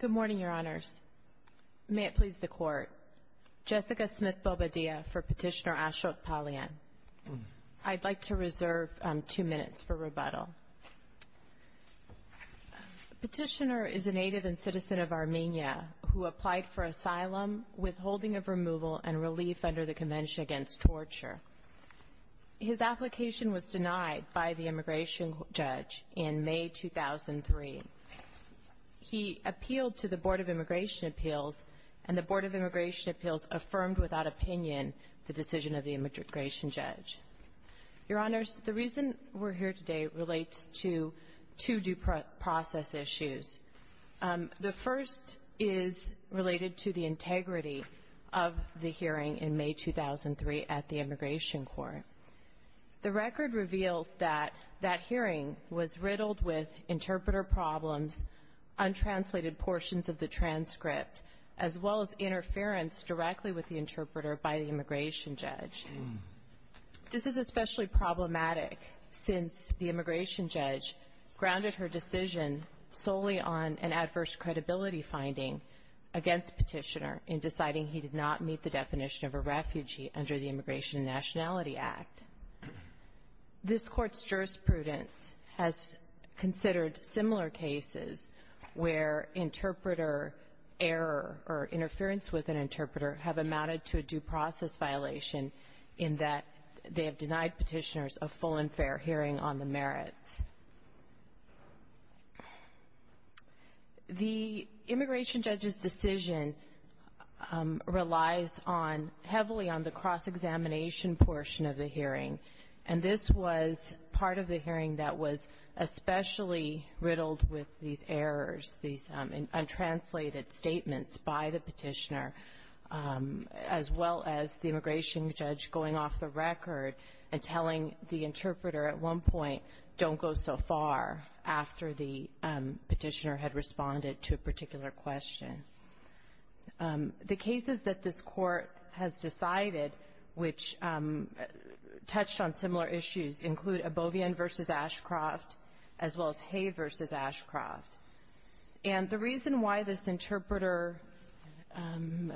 Good morning, Your Honors. May it please the Court. Jessica Smith-Bobadilla for Petitioner Ashok Palyan. I'd like to reserve two minutes for rebuttal. Petitioner is a native and citizen of Armenia who applied for asylum, withholding of removal, and relief under the Convention Against Torture. His application was denied by the immigration judge in May 2003. He appealed to the Board of Immigration Appeals, and the Board of Immigration Appeals affirmed without opinion the decision of the immigration judge. Your Honors, the reason we're here today relates to two due process issues. The first is related to the integrity of the hearing in May 2003 at the immigration court. The record reveals that that hearing was riddled with interpreter problems, untranslated portions of the transcript, as well as interference directly with the interpreter by the immigration judge. This is especially problematic since the immigration judge grounded her decision solely on an adverse credibility finding against Petitioner in deciding he did not meet the definition of a refugee under the Immigration and Nationality Act. This Court's jurisprudence has considered similar cases where interpreter error or interference with an interpreter have amounted to a due process violation in that they have denied Petitioners a full and fair hearing on the merits. The immigration judge's decision relies on heavily on the cross-examination portion of the hearing, and this was part of the hearing that was especially riddled with these errors, these untranslated statements by the Petitioner, as well as the immigration judge going off the record and telling the interpreter at one point, don't go so far after the Petitioner had responded to a particular question. The cases that this Court has decided which touched on similar issues include Abovian v. Ashcroft, as well as Hay v. Ashcroft. And the reason why this interpreter,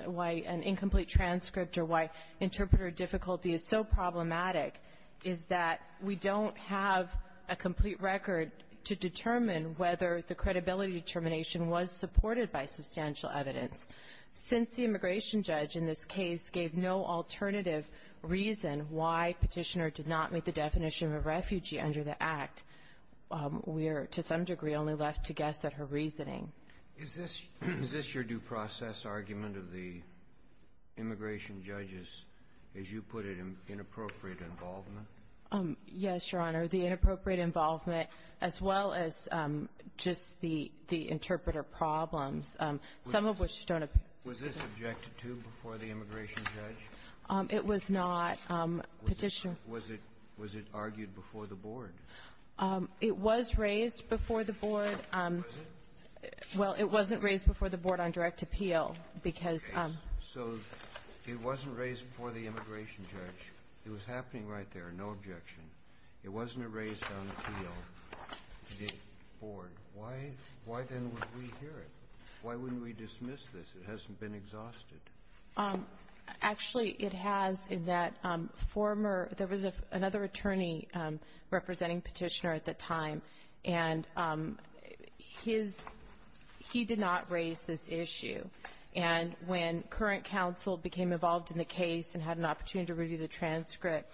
why an incomplete transcript or why interpreter difficulty is so problematic is that we don't have a complete record to determine whether the credibility determination was supported by substantial evidence. Since the immigration judge in this case gave no alternative reason why Petitioner did not meet the definition of a refugee under the Act, we are, to some degree, only left to guess at her reasoning. Is this your due process argument of the immigration judge's, as you put it, inappropriate involvement? Yes, Your Honor. The inappropriate involvement, as well as just the interpreter problems, some of which don't appear. Was this objected to before the immigration judge? It was not. Petitioner. Was it argued before the board? It was raised before the board. Was it? Well, it wasn't raised before the board on direct appeal because of the case. So it wasn't raised before the immigration judge. It was happening right there, no objection. It wasn't raised on appeal before the board. Why then would we hear it? Why wouldn't we dismiss this? It hasn't been exhausted. Actually, it has in that former — there was another attorney representing Petitioner at the time, and his — he did not raise this issue. And when current counsel became involved in the case and had an opportunity to review the transcript,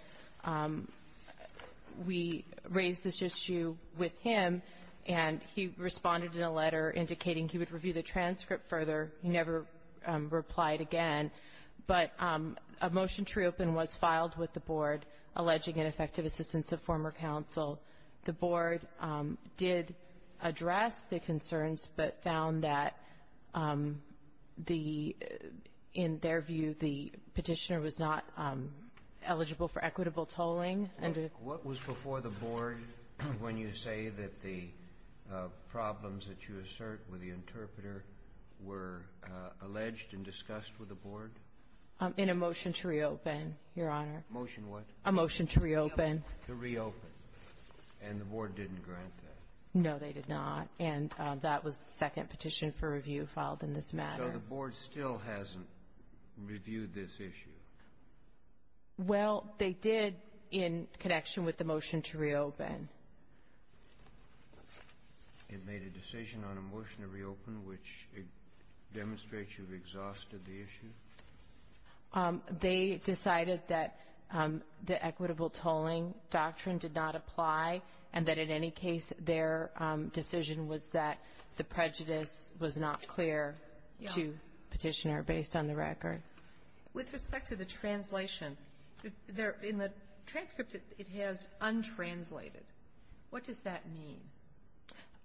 we raised this issue with him, and he responded in a letter indicating he would review the transcript further. He never replied again. But a motion to reopen was filed with the board alleging ineffective assistance of former counsel. The board did address the concerns but found that the — in their view, the Petitioner was not eligible for equitable tolling. What was before the board when you say that the problems that you assert with the interpreter were alleged and discussed with the board? In a motion to reopen, Your Honor. Motion what? A motion to reopen. To reopen. And the board didn't grant that? No, they did not. And that was the second petition for review filed in this matter. So the board still hasn't reviewed this issue? Well, they did in connection with the motion to reopen. It made a decision on a motion to reopen which demonstrates you've exhausted the issue? They decided that the equitable tolling doctrine did not apply and that in any case their decision was that the prejudice was not clear to Petitioner based on the record. With respect to the translation, in the transcript it has untranslated. What does that mean?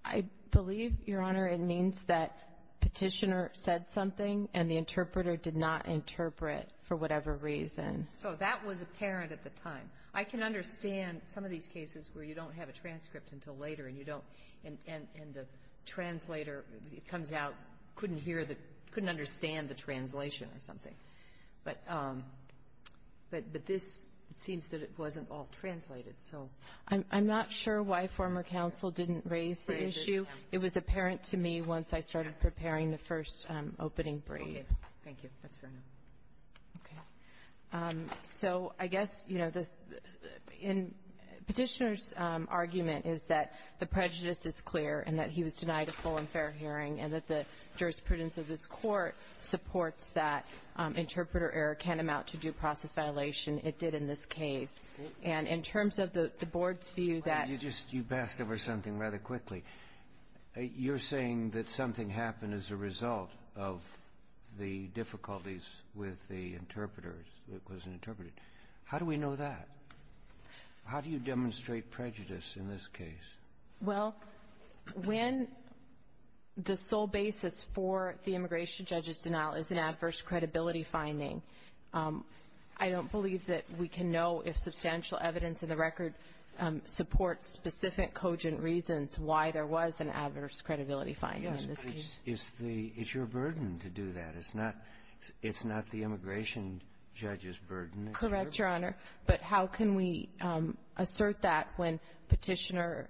I believe, Your Honor, it means that Petitioner said something and the interpreter did not interpret for whatever reason. So that was apparent at the time. I can understand some of these cases where you don't have a transcript until later and you don't, and the translator comes out, couldn't hear the, couldn't understand the translation or something. But this seems that it wasn't all translated, so. I'm not sure why former counsel didn't raise the issue. It was apparent to me once I started preparing the first opening brief. Thank you. That's fair enough. Okay. So I guess, you know, Petitioner's argument is that the prejudice is clear and that he was denied a full and fair hearing and that the jurisprudence of this Court supports that interpreter error can amount to due process violation. It did in this case. And in terms of the Board's view that you just you passed over something rather quickly, you're saying that something happened as a result of the difficulties with the interpreters that wasn't interpreted. How do we know that? How do you demonstrate prejudice in this case? Well, when the sole basis for the immigration judge's denial is an adverse credibility finding, I don't believe that we can know if substantial evidence in the record supports specific cogent reasons why there was an adverse credibility finding in this case. Yes, but it's your burden to do that. It's not the immigration judge's burden. Correct, Your Honor. But how can we assert that when Petitioner,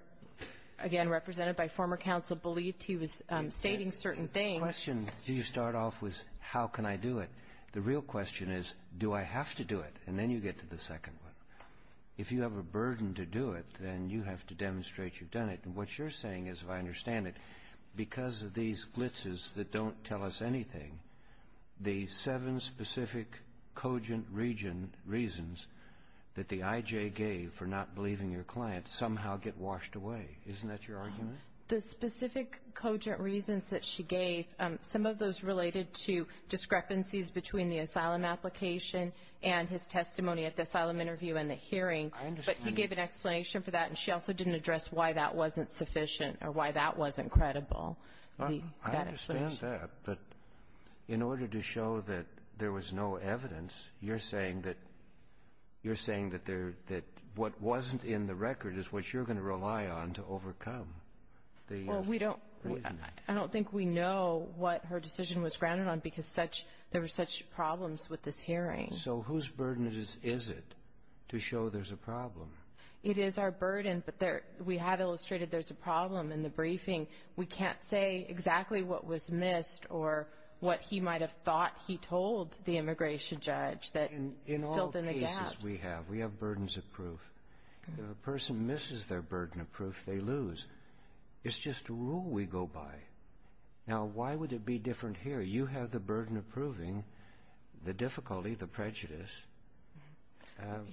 again, represented by former counsel, believed he was stating certain things? The question, do you start off with how can I do it? The real question is, do I have to do it? And then you get to the second one. If you have a burden to do it, then you have to demonstrate you've done it. And what you're saying is, if I understand it, because of these glitzes that don't tell us anything, the seven specific cogent reasons that the IJ gave for not believing your client somehow get washed away. Isn't that your argument? The specific cogent reasons that she gave, some of those related to discrepancies between the asylum application and his testimony at the asylum interview and the hearing. I understand. But he gave an explanation for that, and she also didn't address why that wasn't sufficient or why that wasn't credible. I understand that. But in order to show that there was no evidence, you're saying that you're saying that there — that what wasn't in the record is what you're going to rely on to overcome the reasoning. Well, we don't — I don't think we know what her decision was grounded on because such — there were such problems with this hearing. So whose burden is it to show there's a problem? It is our burden, but there — we have illustrated there's a problem in the briefing. We can't say exactly what was missed or what he might have thought he told the immigration judge that filled in the gaps. In all cases we have, we have burdens of proof. If a person misses their burden of proof, they lose. It's just a rule we go by. Now, why would it be different here? You have the burden of proving the difficulty, the prejudice.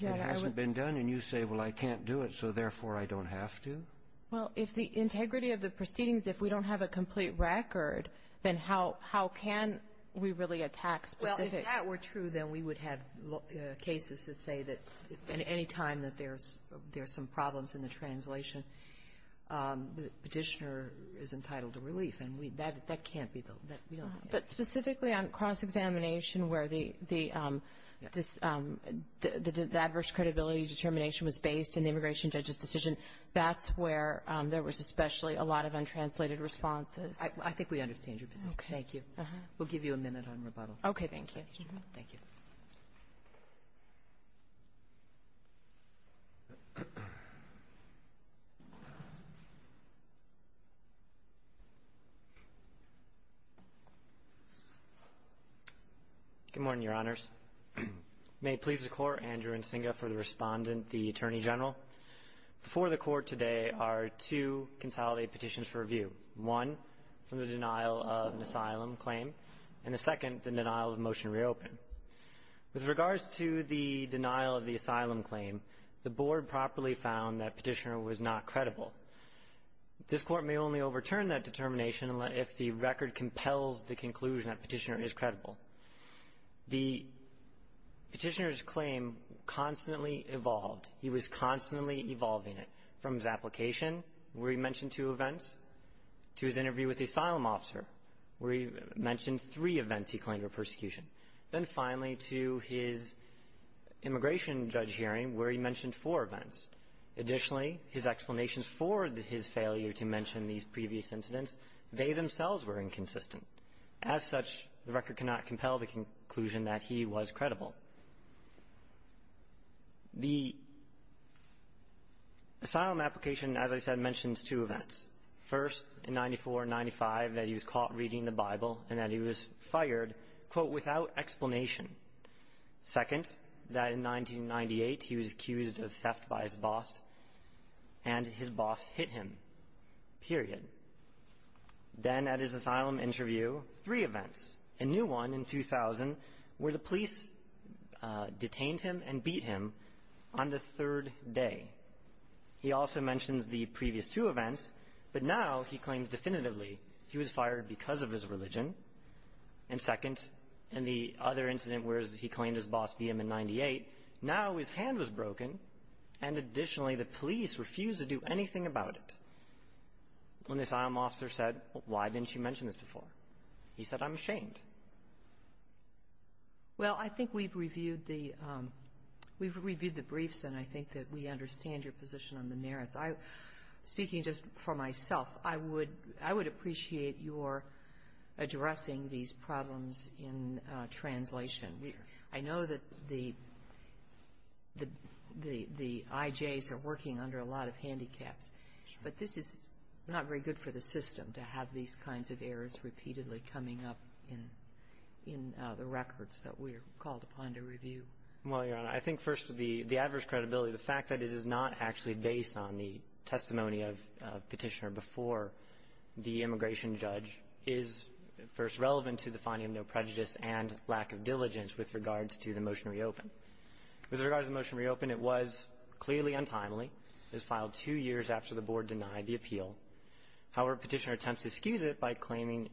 It hasn't been done, and you say, well, I can't do it, so therefore I don't have to? Well, if the integrity of the proceedings, if we don't have a complete record, then how can we really attack specifics? Well, if that were true, then we would have cases that say that any time that there's some problems in the translation, the Petitioner is entitled to relief. And we — that can't be the — we don't have that. But specifically on cross-examination where the — this — the adverse credibility determination was based in the immigration judge's decision, that's where there was especially a lot of untranslated responses. I think we understand your position. Okay. We'll give you a minute on rebuttal. Okay. Thank you. Thank you. Good morning, Your Honors. May it please the Court, Andrew Nsinga for the Respondent, the Attorney General. Before the Court today are two consolidated petitions for review, one from the denial of an asylum claim, and the second, the denial of a motion to reopen. With regards to the denial of the asylum claim, the Board properly found that Petitioner was not credible. This Court may only overturn that determination if the record compels the conclusion that Petitioner is credible. The Petitioner's claim constantly evolved. He was constantly evolving it, from his application, where he mentioned two events, to his interview with the asylum officer, where he mentioned three events he claimed were persecution. Then finally, to his immigration judge hearing, where he mentioned four events. Additionally, his explanations for his failure to mention these previous incidents, they themselves were inconsistent. As such, the record cannot compel the conclusion that he was credible. The asylum application, as I said, mentions two events. First, in 94-95, that he was caught reading the Bible and that he was fired, quote, without explanation. Second, that in 1998, he was accused of theft by his boss, and his boss hit him. Period. Then at his asylum interview, three events. A new one in 2000, where the police detained him and beat him on the third day. He also mentions the previous two events, but now he claims definitively he was fired because of his religion. And second, in the other incident where he claimed his boss beat him in 98, now his hand was broken, and additionally, the police refused to do anything about it. When this asylum officer said, why didn't you mention this before, he said, I'm ashamed. Well, I think we've reviewed the briefs, and I think that we understand your position on the merits. I'm speaking just for myself. I would appreciate your addressing these problems in translation. I know that the IJs are working under a lot of handicaps. But this is not very good for the system to have these kinds of errors repeatedly coming up in the records that we're called upon to review. Well, Your Honor, I think first of the adverse credibility, the fact that it is not actually based on the testimony of Petitioner before the immigration judge is first relevant to the finding of no prejudice and lack of diligence with regards to the motion to reopen. With regards to the motion to reopen, it was clearly untimely. It was filed two years after the Board denied the appeal. However, Petitioner attempts to excuse it by claiming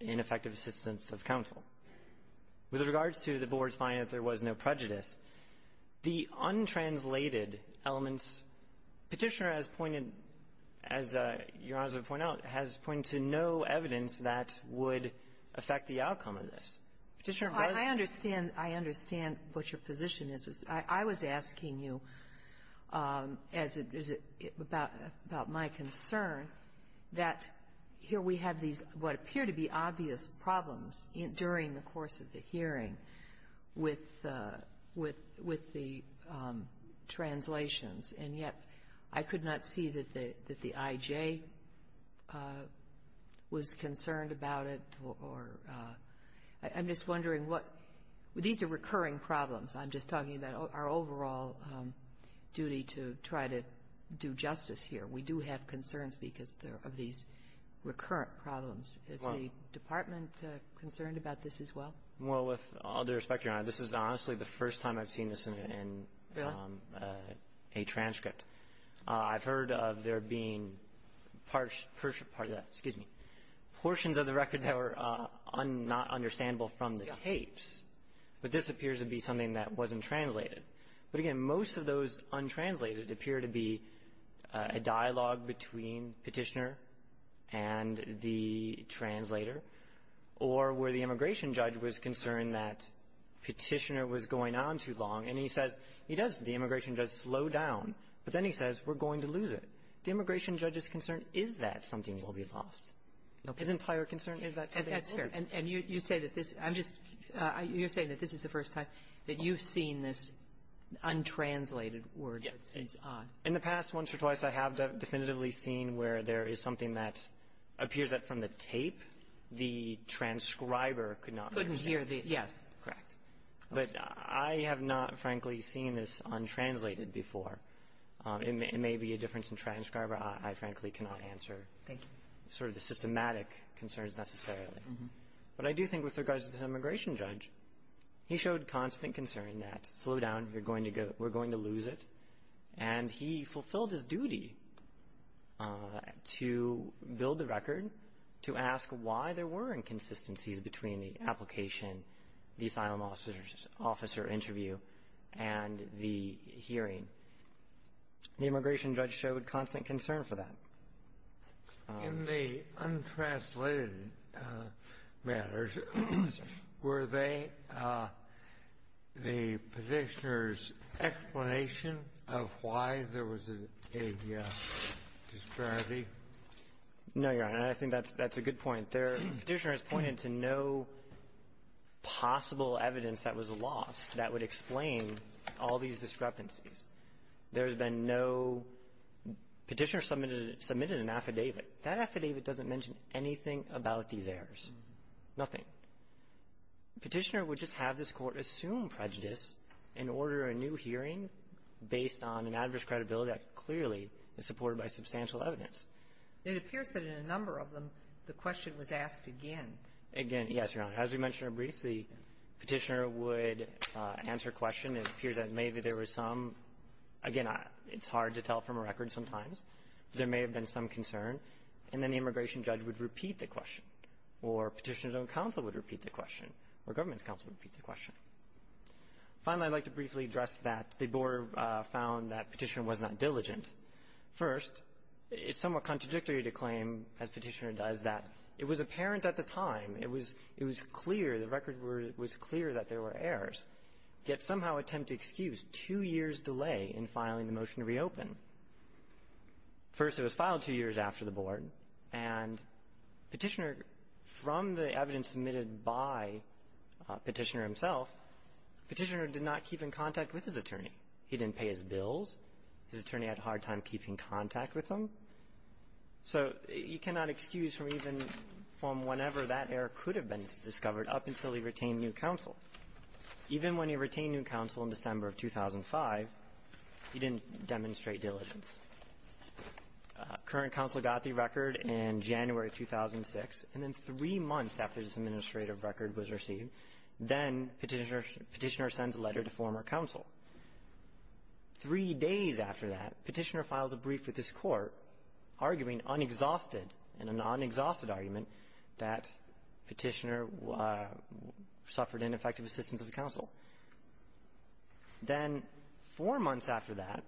ineffective assistance of counsel. With regards to the Board's finding that there was no prejudice, the untranslated elements, Petitioner has pointed, as Your Honor has pointed out, has pointed to no evidence that would affect the outcome of this. Petitioner was -- as it is about my concern, that here we have these what appear to be obvious problems during the course of the hearing with the -- with the translations, and yet I could not see that the IJ was concerned about it or -- I'm just wondering what -- these are recurring problems. I'm just talking about our overall problem and our duty to try to do justice here. We do have concerns because there are these recurrent problems. Is the Department concerned about this as well? Well, with all due respect, Your Honor, this is honestly the first time I've seen this in a transcript. Really? I've heard of there being parts of that. Excuse me. Portions of the record that were not understandable from the tapes, but this appears to be something that wasn't translated. But, again, most of those untranslated appear to be a dialogue between Petitioner and the translator or where the immigration judge was concerned that Petitioner was going on too long. And he says, he does, the immigration judge, slow down. But then he says, we're going to lose it. The immigration judge's concern is that something will be lost. His entire concern is that something will be lost. And you say that this, I'm just, you're saying that this is the first time that you've seen this untranslated word that seems odd. Yes. In the past, once or twice, I have definitively seen where there is something that appears that from the tape the transcriber could not understand. Couldn't hear the, yes, correct. But I have not, frankly, seen this untranslated before. It may be a difference in transcriber. I, frankly, cannot answer sort of the systematic concerns necessarily. But I do think with regards to the immigration judge, he showed constant concern that slow down, we're going to lose it. And he fulfilled his duty to build the record, to ask why there were inconsistencies between the application, the asylum officer interview, and the hearing. The immigration judge showed constant concern for that. In the untranslated matters, were they the Petitioner's explanation of why there was a disparity? No, Your Honor. I think that's a good point. The Petitioner has pointed to no possible evidence that was lost that would explain all these discrepancies. There has been no Petitioner submitted an affidavit. That affidavit doesn't mention anything about these errors, nothing. Petitioner would just have this Court assume prejudice and order a new hearing based on an adverse credibility that clearly is supported by substantial evidence. It appears that in a number of them, the question was asked again. Again, yes, Your Honor. As we mentioned briefly, Petitioner would answer a question. It appears that maybe there were some, again, it's hard to tell from a record sometimes, but there may have been some concern. And then the immigration judge would repeat the question, or Petitioner's own counsel would repeat the question, or government's counsel would repeat the question. Finally, I'd like to briefly address that the Board found that Petitioner was not diligent. First, it's somewhat contradictory to claim, as Petitioner does, that it was apparent at the time, it was clear, the record was clear that there were errors, yet somehow attempt to excuse two years' delay in filing the motion to reopen. First, it was filed two years after the Board, and Petitioner, from the evidence submitted by Petitioner himself, Petitioner did not keep in contact with his attorney. He didn't pay his bills. His attorney had a hard time keeping contact with him. So you cannot excuse from even from whenever that error could have been discovered up until he retained new counsel. Even when he retained new counsel in December of 2005, he didn't demonstrate diligence. Current counsel got the record in January of 2006, and then three months after this administrative record was received, then Petitioner sends a letter to former counsel. Three days after that, Petitioner files a brief with this Court arguing, unexhausted, in a non-exhausted argument, that Petitioner suffered ineffective assistance of counsel. Then four months after that,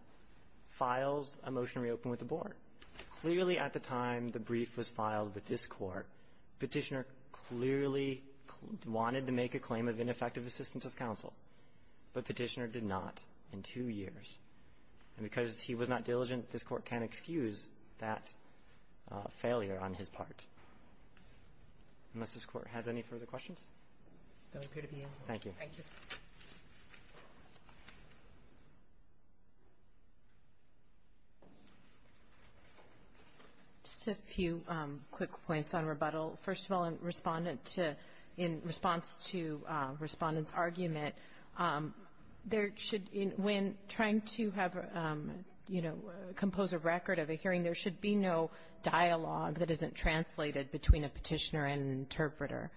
files a motion to reopen with the Board. Clearly, at the time the brief was filed with this Court, Petitioner clearly wanted to make a claim of ineffective assistance of counsel, but Petitioner did not in two years. And because he was not diligent, this Court can't excuse that failure on his part. Unless this Court has any further questions? Thank you. Thank you. Just a few quick points on rebuttal. First of all, in response to Respondent's argument, there should, when trying to have, you know, compose a record of a hearing, there should be no dialogue that isn't translated between a Petitioner and an interpreter.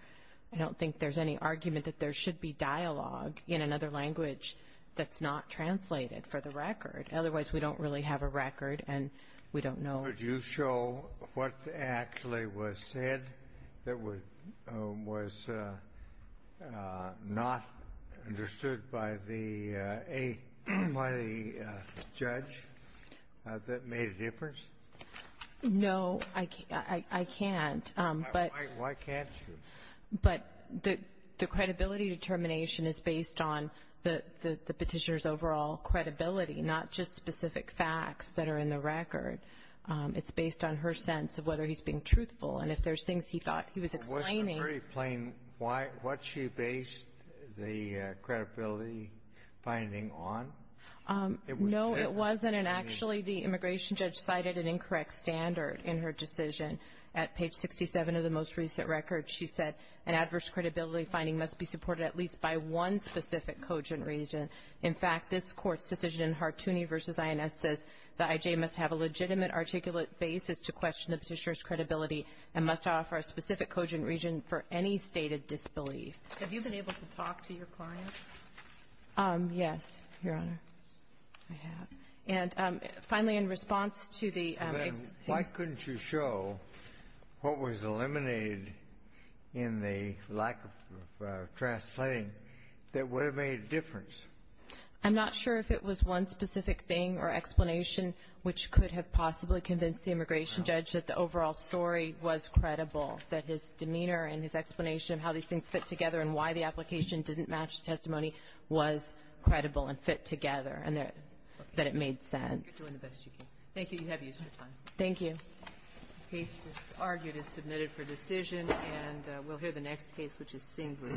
I don't think there's any argument that there should be dialogue in another language that's not translated for the record. Otherwise, we don't really have a record, and we don't know. Could you show what actually was said that was not understood by the judge that made a difference? No, I can't. Why can't you? But the credibility determination is based on the Petitioner's overall credibility, not just specific facts that are in the record. It's based on her sense of whether he's being truthful. And if there's things he thought he was explaining — Well, wasn't it very plain what she based the credibility finding on? No, it wasn't. And actually, the immigration judge cited an incorrect standard in her decision at page 67 of the most recent record. She said an adverse credibility finding must be supported at least by one specific cogent region. In fact, this Court's decision in Hartooni v. INS says the I.J. must have a legitimate articulate basis to question the Petitioner's credibility and must offer a specific cogent region for any stated disbelief. Have you been able to talk to your client? Yes, Your Honor, I have. And finally, in response to the — Then why couldn't you show what was eliminated in the lack of translating that would have made a difference? I'm not sure if it was one specific thing or explanation which could have possibly convinced the immigration judge that the overall story was credible, that his demeanor and his explanation of how these things fit together and why the application didn't match the testimony was credible and fit together, and that it made sense. Okay. We're doing the best we can. Thank you. You have the extra time. Thank you. The case just argued is submitted for decision, and we'll hear the next case, which is Singh v.